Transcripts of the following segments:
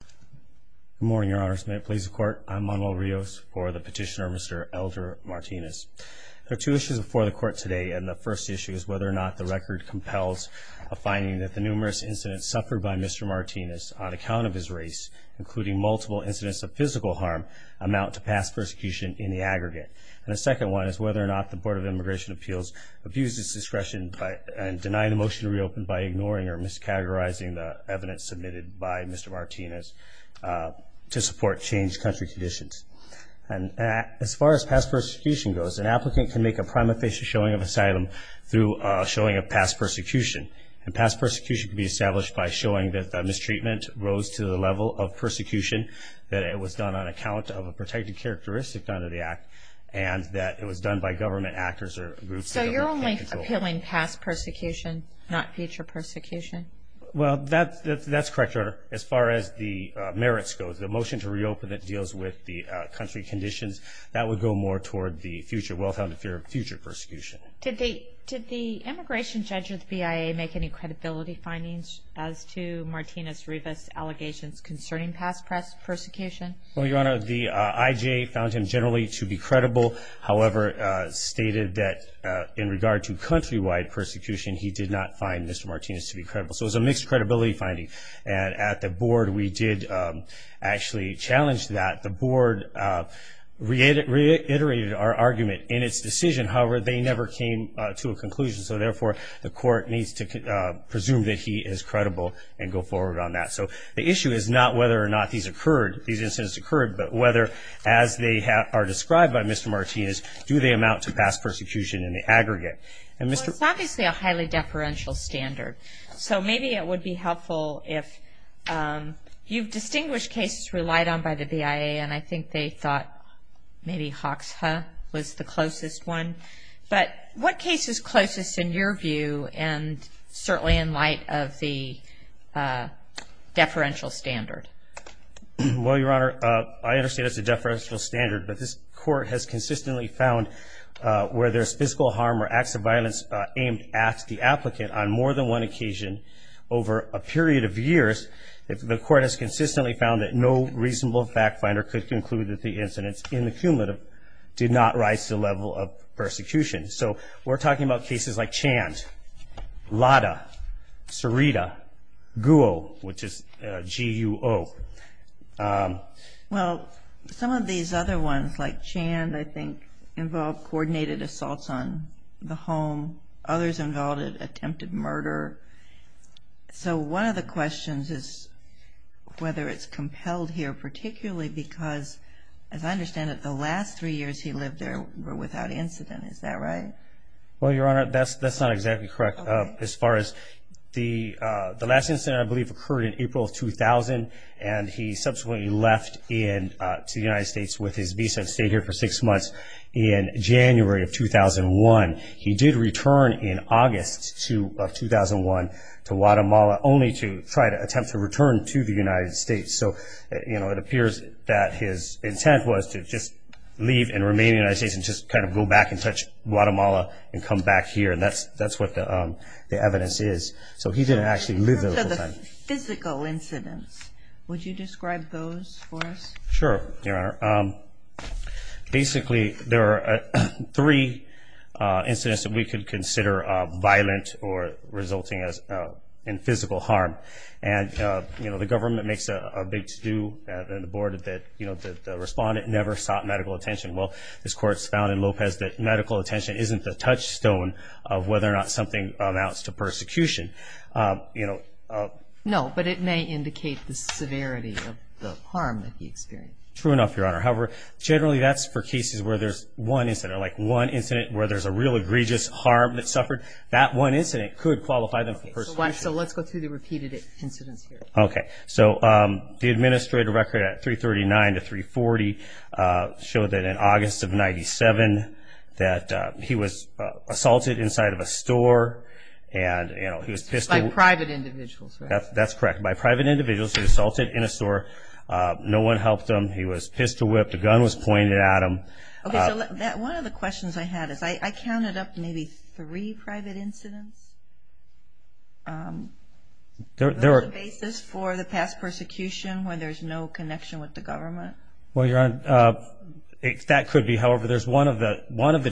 Good morning, Your Honors. May it please the Court, I'm Manuel Rios for the petitioner, Mr. Elder Martinez. There are two issues before the Court today, and the first issue is whether or not the record compels a finding that the numerous incidents suffered by Mr. Martinez on account of his race, including multiple incidents of physical harm, amount to past persecution in the aggregate. And the second one is whether or not the Board of Immigration Appeals abused its discretion and denied a motion to reopen by ignoring or to support changed country conditions. And as far as past persecution goes, an applicant can make a prima facie showing of asylum through showing of past persecution. And past persecution can be established by showing that the mistreatment rose to the level of persecution, that it was done on account of a protected characteristic under the Act, and that it was done by government actors or groups. So you're only appealing past persecution, not future persecution? Well, that's correct, Your Honor. As far as the merits go, the motion to reopen that deals with the country conditions, that would go more toward the well-founded fear of future persecution. Did the immigration judge or the BIA make any credibility findings as to Martinez-Rivas' allegations concerning past persecution? Well, Your Honor, the IJA found him generally to be credible, however stated that in regard to countrywide persecution, he did not find Mr. Martinez-Rivas credible. So it was a mixed credibility finding. And at the Board, we did actually challenge that. The Board reiterated our argument in its decision. However, they never came to a conclusion. So therefore, the court needs to presume that he is credible and go forward on that. So the issue is not whether or not these incidents occurred, but whether, as they are described by Mr. Martinez, do they amount to past persecution in the aggregate. Well, it's obviously a highly deferential standard. So maybe it would be helpful if you've distinguished cases relied on by the BIA, and I think they thought maybe Hoxha was the closest one. But what case is closest in your view, and certainly in light of the deferential standard? Well, Your Honor, I understand it's a deferential standard, but this court has consistently found where there's physical harm or acts of violence aimed at the applicant on more than one occasion over a period of years, the court has consistently found that no reasonable fact finder could conclude that the incidents in the cumulative did not rise to the level of persecution. So we're talking about cases like Chand, Lada, Cerita, Guo, which is G-U-O. Well, some of these other ones, like Chand, I think, involved coordinated assaults on the home. Others involved attempted murder. So one of the questions is whether it's compelled here, particularly because, as I understand it, the last three years he lived there were without incident. Is that correct? Yes, Your Honor. As far as the last incident I believe occurred in April of 2000, and he subsequently left to the United States with his visa and stayed here for six months in January of 2001. He did return in August of 2001 to Guatemala, only to try to attempt to return to the United States. So it appears that his intent was to just leave and remain in the United States and just kind of go back and touch Guatemala and come back to the United States. So he didn't actually live there the whole time. In terms of the physical incidents, would you describe those for us? Sure, Your Honor. Basically, there are three incidents that we could consider violent or resulting in physical harm. And the government makes a big to-do, and the board, that the respondent never sought medical attention. Well, this court has found in Lopez that medical attention isn't the primary cause of physical harm, but it may indicate the severity of the harm that he experienced. True enough, Your Honor. However, generally that's for cases where there's one incident, like one incident where there's a real egregious harm that suffered. That one incident could qualify them for persecution. So let's go through the repeated incidents here. Okay. So the administrative record at 339 to 340 showed that in August of 97 that he was assaulted inside of a store, and he was pissed to whip. By private individuals, right? That's correct. By private individuals. He was assaulted in a store. No one helped him. He was pissed to whip. The gun was pointed at him. Okay. So one of the questions I had is I counted up maybe three private incidents. Was there a basis for the past persecution where there's no connection with the government? Well, Your Honor, that could be. However, there's one of the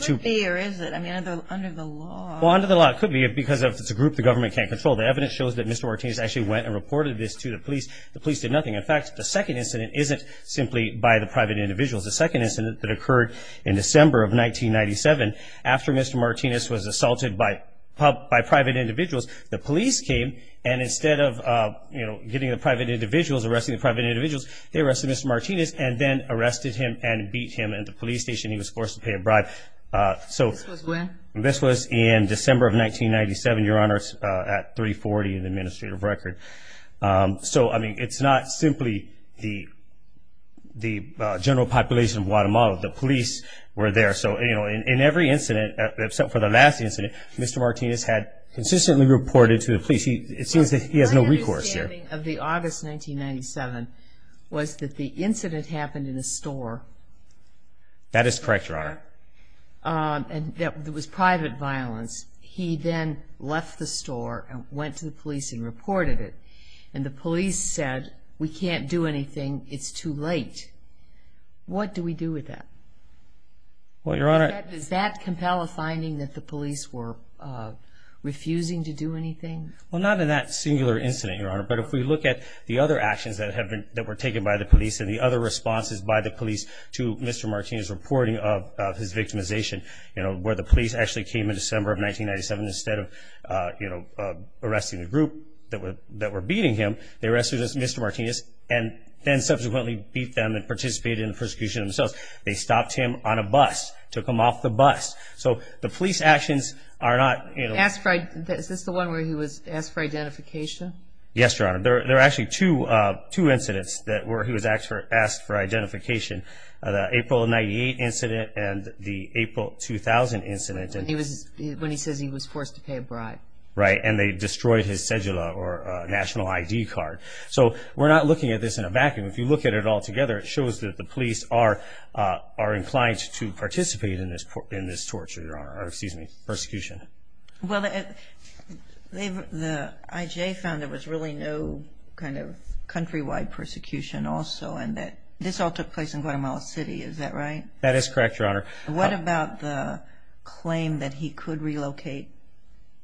two. Could be, or is it? I mean, under the law. Well, under the law it could be, because if it's a group the government can't control. The evidence shows that Mr. Martinez actually went and reported this to the police. The police did nothing. In fact, the second incident isn't simply by the private individuals. The second incident that occurred in which Mr. Martinez was assaulted, the police came and instead of getting the private individuals, arresting the private individuals, they arrested Mr. Martinez and then arrested him and beat him at the police station. He was forced to pay a bribe. This was when? This was in December of 1997, Your Honor, at 340 in the administrative record. So, I mean, it's not simply the general population of Guatemala. The police were there. So, you know, in every incident, except for the last incident, Mr. Martinez had consistently reported to the police. It seems that he has no recourse there. My understanding of the August 1997 was that the incident happened in a store. That is correct, Your Honor. That was private violence. He then left the store and went to the police and reported it. And the police said, we can't do anything. It's too late. What do we do with that? Does that compel a finding that the police were refusing to do anything? Well, not in that singular incident, Your Honor, but if we look at the other actions that were taken by the police and the other responses by the police to Mr. Martinez reporting of his victimization, you know, where the police actually came in December of 1997 instead of, you know, arresting the group that were beating him, they arrested Mr. Martinez and then subsequently beat them and participated in the persecution themselves. They stopped him on a bus, took him off the bus. So, the police actions are not... Is this the one where he was asked for identification? Yes, Your Honor. There are actually two incidents where he was asked for identification, the April 1998 incident and the April 2000 incident. When he says he was forced to pay a bribe. Right, and they destroyed his cedula or national ID card. So, we're not looking at this in a vacuum. If you look at it all together, it shows that the police are inclined to participate in this torture, Your Honor, or excuse me, persecution. Well, the IJ found there was really no kind of countrywide persecution also and that this all took place in Guatemala City. Is that right? That is correct, Your Honor. What about the claim that he could relocate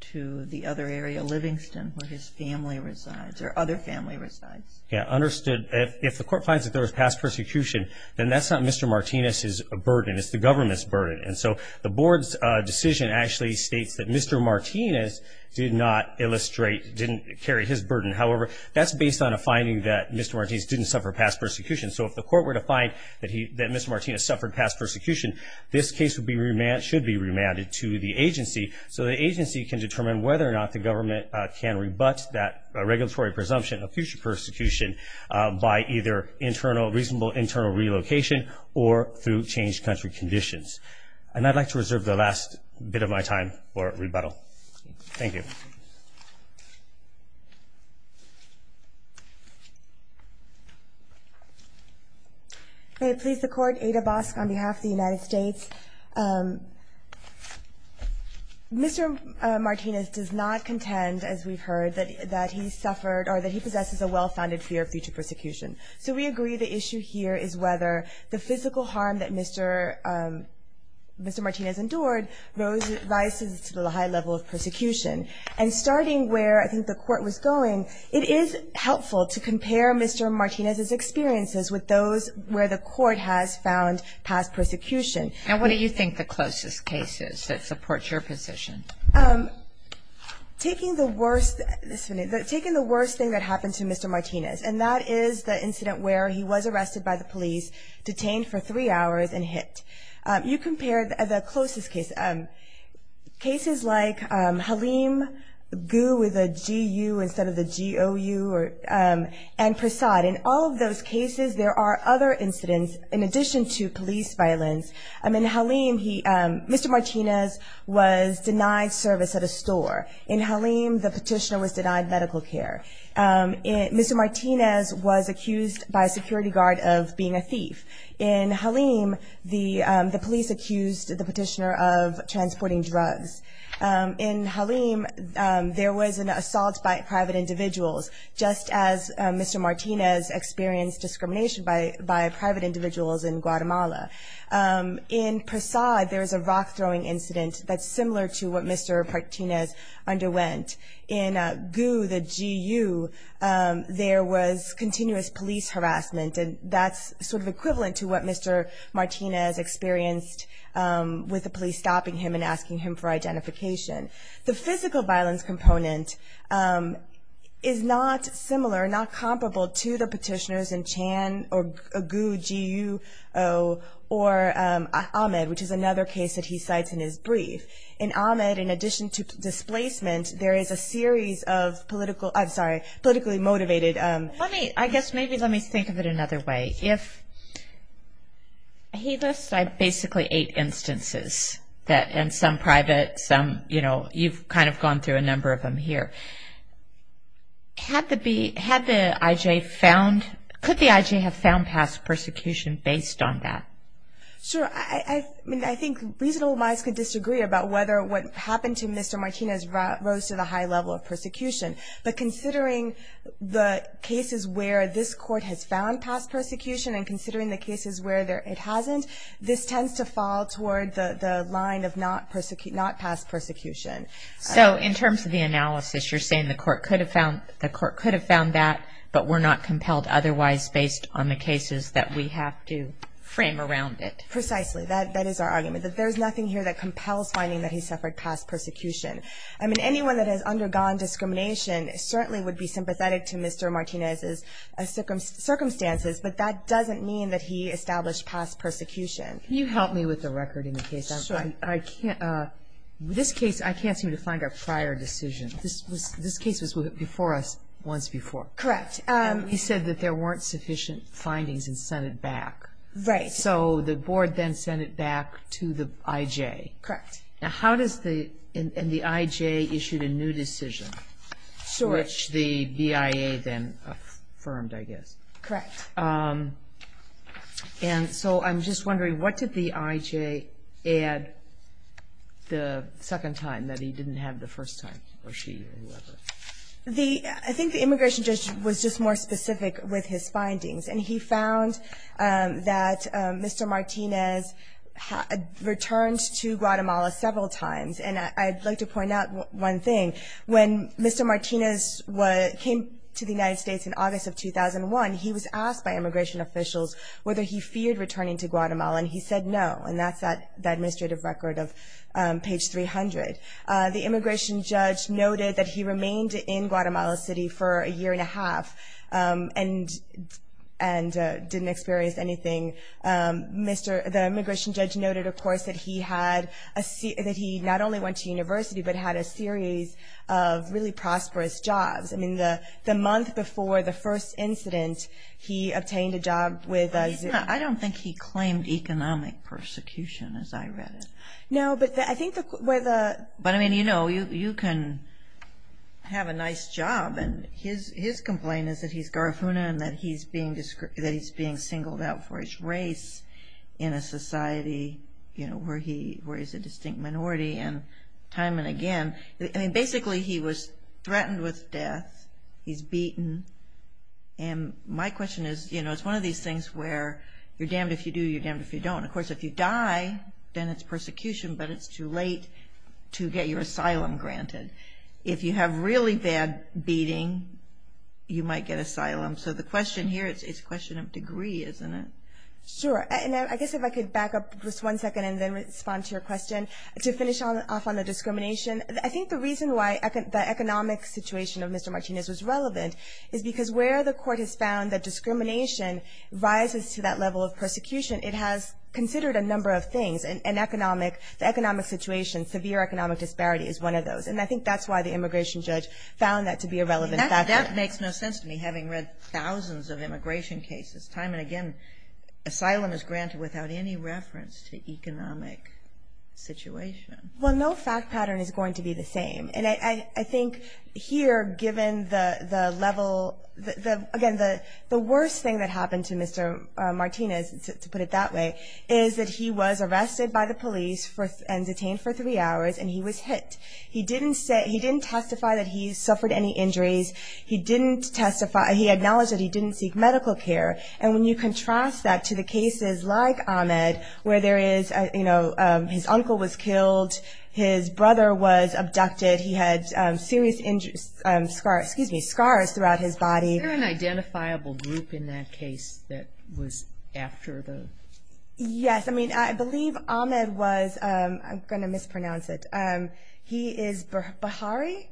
to the other area, Livingston, where his family resides or other family resides? Yeah, understood. If the court finds that there was past persecution, then that's not Mr. Martinez's burden. It's the government's burden. And so, the board's decision actually states that Mr. Martinez did not illustrate, didn't carry his burden. However, that's based on a finding that Mr. Martinez didn't suffer past persecution. So, if the court were to find that Mr. Martinez suffered past persecution, this case should be remanded to the agency. So, the agency can determine whether or not the government can rebut that regulatory presumption of future persecution by either reasonable internal relocation or through changed country conditions. And I'd like to reserve the last bit of my time for rebuttal. Thank you. May it please the Court. Ada Bosk on behalf of the United States. Mr. Martinez does not contend, as we've heard, that he suffered or that he possesses a well-founded fear of future persecution. So, we agree the issue here is whether the physical harm that Mr. Martinez endured rises to the high level of persecution. And starting where I think the court was going, it is helpful to compare Mr. Martinez's experiences with other cases, with those where the court has found past persecution. And what do you think the closest case is that supports your position? Taking the worst, taking the worst thing that happened to Mr. Martinez, and that is the incident where he was arrested by the police, detained for three hours and hit. You compare the closest case, cases like Halim Gu with a GU instead of the GOU and Prasad. In all of those cases, there are other incidents, in addition to police violence. In Halim, he, Mr. Martinez was denied service at a store. In Halim, the petitioner was denied medical care. Mr. Martinez was accused by a security guard of being a thief. In Halim, the police accused the petitioner of transporting drugs. In Halim, there was an assault by private individuals, just as Mr. Martinez experienced discrimination by private individuals in Guatemala. In Prasad, there was a rock-throwing incident that's similar to what Mr. Martinez underwent. In GU, the G-U, there was continuous police harassment, and that's sort of equivalent to what Mr. Martinez experienced with the police stopping him and asking him for identification. The physical violence component is not similar, not comparable to the petitioners in Chan or GU or Ahmed, which is another case that he cites in his brief. In Ahmed, in addition to displacement, there is a series of politically motivated... I guess maybe let me think of it another way. If he lists basically eight instances, and some private, some... You've kind of gone through a number of them here. Could the I.J. have found past persecution based on that? Sure. I mean, I think reasonable minds could disagree about whether what happened to Mr. Martinez rose to the high level of persecution. But considering the cases where this court has found past persecution and considering the cases where it hasn't, this tends to fall toward the line of not past persecution. So in terms of the analysis, you're saying the court could have found that, but were not compelled otherwise based on the cases that we have to frame around it? Precisely. That is our argument, that there's nothing here that compels finding that he suffered past persecution. I mean, anyone that has undergone discrimination certainly would be sympathetic to Mr. Martinez's circumstances, but that doesn't mean that he established past persecution. Can you help me with the record in the case? Sure. This case, I can't seem to find a prior decision. This case was before us once before. Correct. And we said that there weren't sufficient findings and sent it back. Right. So the board then sent it back to the I.J. Correct. And the I.J. issued a new decision, which the BIA then affirmed, I guess. Correct. And so I'm just wondering, what did the I.J. add the second time that he didn't have the first time, or she or whoever? I think the immigration judge was just more specific with his findings, and he found that Mr. Martinez returned to Guatemala several times, and I'd like to point out one thing. When Mr. Martinez came to the United States in August of 2001, he was asked by immigration officials whether he feared returning to Guatemala, and he said no, and that's the administrative record of page 300. The immigration judge noted that he remained in Guatemala City for a year and a half, and didn't experience anything. The immigration judge noted, of course, that he not only went to university, but had a series of really prosperous jobs. I mean, the month before the first incident, he obtained a job with a zoo. I don't think he claimed economic persecution, as I read it. No, but I think where the... But, I mean, you know, you can have a nice job, and his complaint is that he's Garifuna, and that he's being singled out for his race in a society where he's a distinct minority, and time and again, I mean, basically he was threatened with death. He's beaten, and my question is, you know, it's one of these things where you're damned if you do, you're damned if you don't. Of course, if you die, then it's persecution, but it's too late to get your asylum granted. If you have really bad beating, you might get asylum. So the question here, it's a question of degree, isn't it? Sure, and I guess if I could back up just one second and then respond to your question. To finish off on the discrimination, I think the reason why the economic situation of Mr. Martinez was relevant is because where the court has found that discrimination rises to that level of persecution, it has considered a number of things, and economic, the economic situation, severe economic disparity is one of those, and I think that's why the immigration judge found that to be a relevant factor. That makes no sense to me, having read thousands of immigration cases. Time and again, asylum is granted without any reference to economic situation. Well, no fact pattern is going to be the same, and I think here, given the level, again, the worst thing that happened to Mr. Martinez, to put it that way, is that he was arrested by the police and detained for three hours, and he was hit. He didn't testify that he suffered any injuries. He didn't testify, he acknowledged that he didn't seek medical care, and when you contrast that to the cases like Ahmed, where there is, you know, his uncle was killed, his brother was abducted, he had serious scars throughout his body. Is there an identifiable group in that case that was after the? Yes, I mean, I believe Ahmed was, I'm going to mispronounce it, he is Bahari,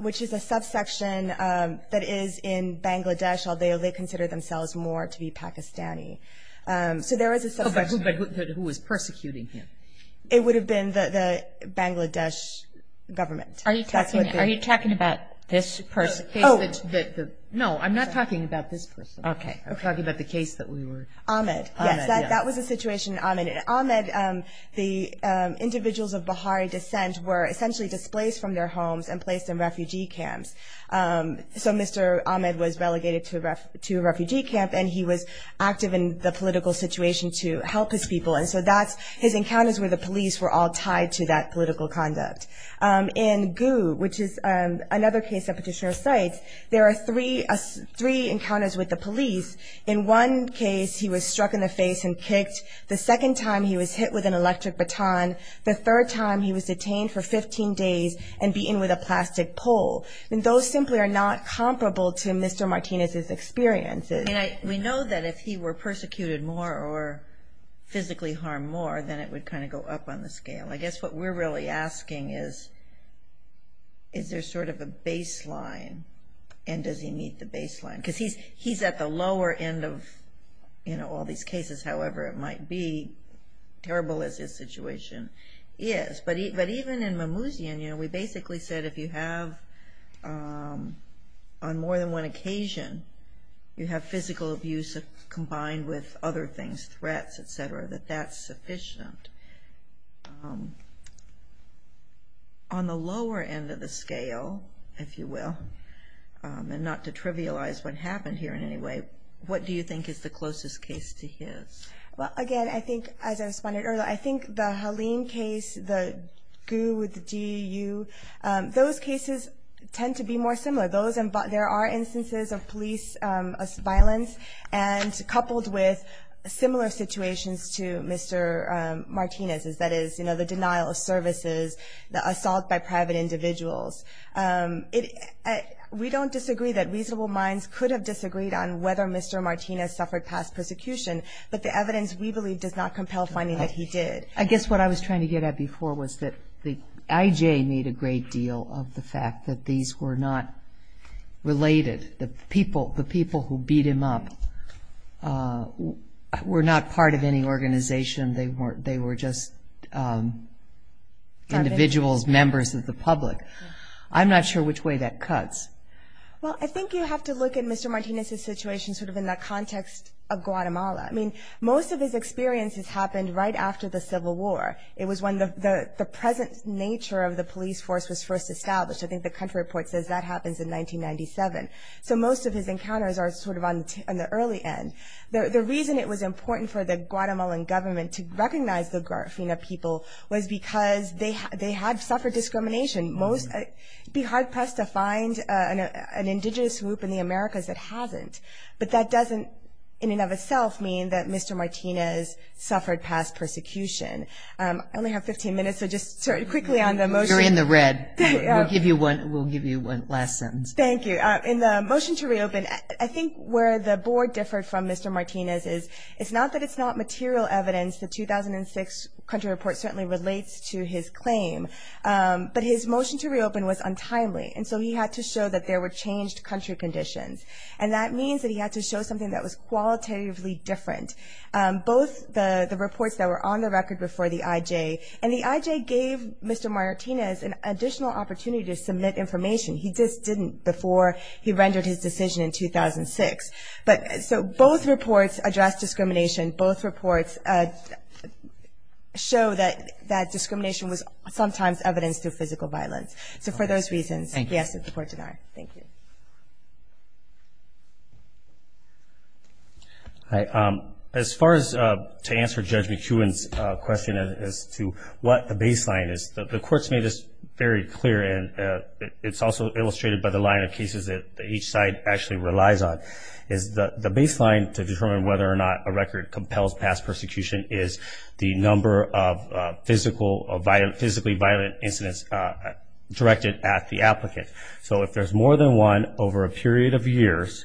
which is a subsection that is in Bangladesh, although they consider themselves more to be Pakistani. So there is a subsection. But who was persecuting him? It would have been the Bangladesh government. Are you talking about this person? No, I'm not talking about this person. Okay. I'm talking about the case that we were. Ahmed. Yes, that was the situation in Ahmed. In Ahmed, the individuals of Bahari descent were essentially displaced from their homes and placed in refugee camps. So Mr. Ahmed was relegated to a refugee camp, and he was active in the political situation to help his people. And so that's, his encounters with the police were all tied to that political conduct. In Gu, which is another case that Petitioner cites, there are three encounters with the police. In one case, he was struck in the face and kicked. The second time, he was hit with an electric baton. The third time, he was detained for 15 days and beaten with a plastic pole. And those simply are not comparable to Mr. Martinez's experiences. And we know that if he were persecuted more or physically harmed more, then it would kind of go up on the scale. I guess what we're really asking is, is there sort of a baseline, and does he meet the baseline? Because he's at the lower end of, you know, all these cases, however it might be. Terrible as his situation is. But even in Mimouzian, you know, we basically said if you have, on more than one occasion, you have physical abuse combined with other things, threats, etc., that that's sufficient. On the lower end of the scale, if you will, and not to trivialize what happened here in any way, what do you think is the closest case to his? Well, again, I think, as I responded earlier, I think the Halim case, the GU with the DEU, those cases tend to be more similar. There are instances of police violence, and coupled with similar situations to Mr. Martinez's, that is, you know, the denial of services, the assault by private individuals. We don't disagree that reasonable minds could have disagreed on whether Mr. Martinez suffered past persecution, but the evidence we believe does not compel finding that he did. I guess what I was trying to get at before was that the IJ made a great deal of the fact that these were not related. The people who beat him up were not part of any organization. They were just individuals, members of the public. I'm not sure which way that cuts. Well, I think you have to look at Mr. Martinez's situation sort of in the context of Guatemala. I mean, most of his experiences happened right after the Civil War. It was when the present nature of the police force was first established. I think the country report says that happens in 1997. So most of his encounters are sort of on the early end. The reason it was important for the Guatemalan government to recognize the Garifuna people was because they had suffered discrimination. It would be hard-pressed to find an indigenous group in the Americas that hasn't. But that doesn't, in and of itself, mean that Mr. Martinez suffered past persecution. I only have 15 minutes, so just quickly on the motion. Go ahead. We'll give you one last sentence. Thank you. In the motion to reopen, I think where the board differed from Mr. Martinez is, it's not that it's not material evidence. The 2006 country report certainly relates to his claim. But his motion to reopen was untimely, and so he had to show that there were changed country conditions. And that means that he had to show something that was qualitatively different. Both the reports that were on the record before the IJ, and the IJ gave Mr. Martinez an additional opportunity to submit information. He just didn't before he rendered his decision in 2006. So both reports address discrimination. Both reports show that discrimination was sometimes evidence to physical violence. So for those reasons, yes, it's a court denial. As far as to answer Judge McEwen's question as to what the baseline is, the court's made this very clear, and it's also illustrated by the line of cases that each side actually relies on, is the baseline to determine whether or not a record compels past persecution is the number of physically violent incidents directed at the applicant. So if there's more than one over a period of years,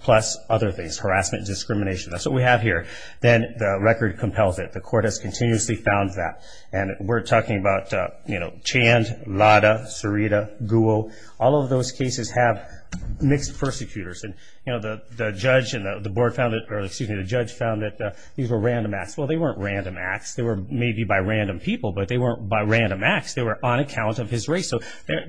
plus other things, harassment, discrimination, that's what we have here, then the record compels it. The court has continuously found that. And we're talking about Chand, Lada, Sarita, Guo. All of those cases have mixed persecutors. The judge found that these were random acts. Well, they weren't random acts. They were maybe by random people, but they weren't by random acts. They were on account of his race. So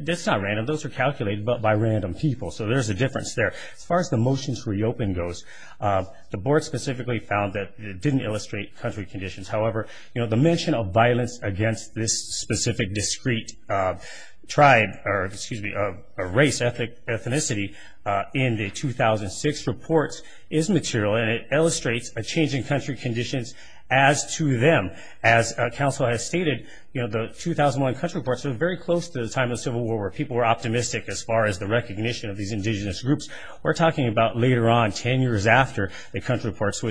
that's not random. Those are calculated by random people. So there's a difference there. As far as the motions reopen goes, the board specifically found that it didn't illustrate country conditions. However, the mention of violence against this specific discreet tribe, or excuse me, race, ethnicity, in the 2006 reports is material, and it illustrates a change in country conditions as to them. As counsel has stated, the 2001 country reports were very close to the time of the Civil War where people were optimistic as far as the recognition of these indigenous groups. We're talking about later on, 10 years after the country reports,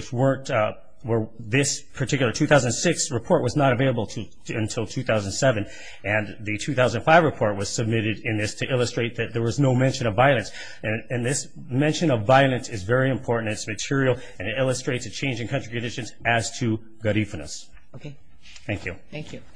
where this particular 2006 report was not available until 2007. And the 2005 report was submitted in this to illustrate that there was no mention of violence. And this mention of violence is very important. It's material, and it illustrates a change in country conditions as to Garifunas. Thank you.